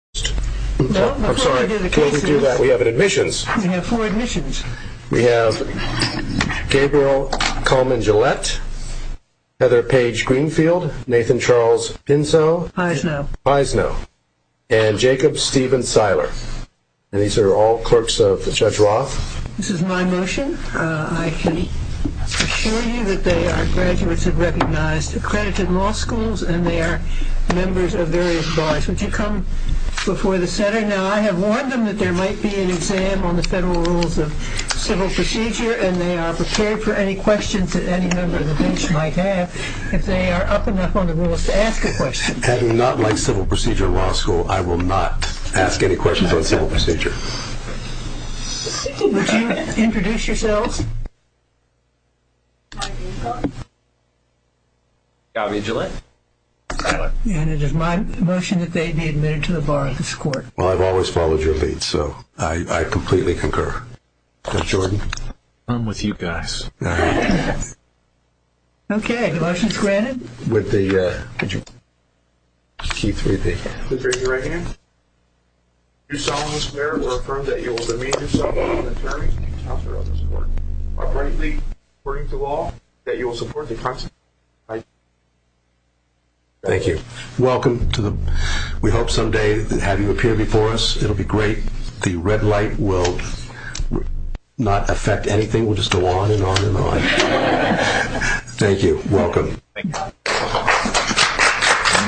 I'm sorry, before we do that, we have admissions. We have four admissions. We have Gabriel Coleman-Gillette, Heather Paige Greenfield, Nathan Charles Pinso, Paisno, and Jacob Steven Seiler. And these are all clerks of Judge Roth. This is my motion. I can assure you that they are graduates of recognized accredited law schools and they are members of various bodies. Would you come before the center? Now, I have warned them that there might be an exam on the federal rules of civil procedure and they are prepared for any questions that any member of the bench might have if they are up enough on the rules to ask a question. I do not like civil procedure law school. I will not ask any questions on civil procedure. Would you introduce yourselves? My name's on it. Gabby Gillette. And it is my motion that they be admitted to the bar of this court. Well, I've always followed your lead, so I completely concur. Judge Jordan? I'm with you guys. Okay, the motion is granted. With the key 3B. Please raise your right hand. You solemnly swear or affirm that you will demean yourself before the attorney and the counselor of this court or frankly, according to law, that you will support the constitution of the United States of America. Thank you. Welcome. We hope someday to have you appear before us. It'll be great. The red light will not affect anything. We'll just go on and on and on. Thank you. Welcome. Thank you.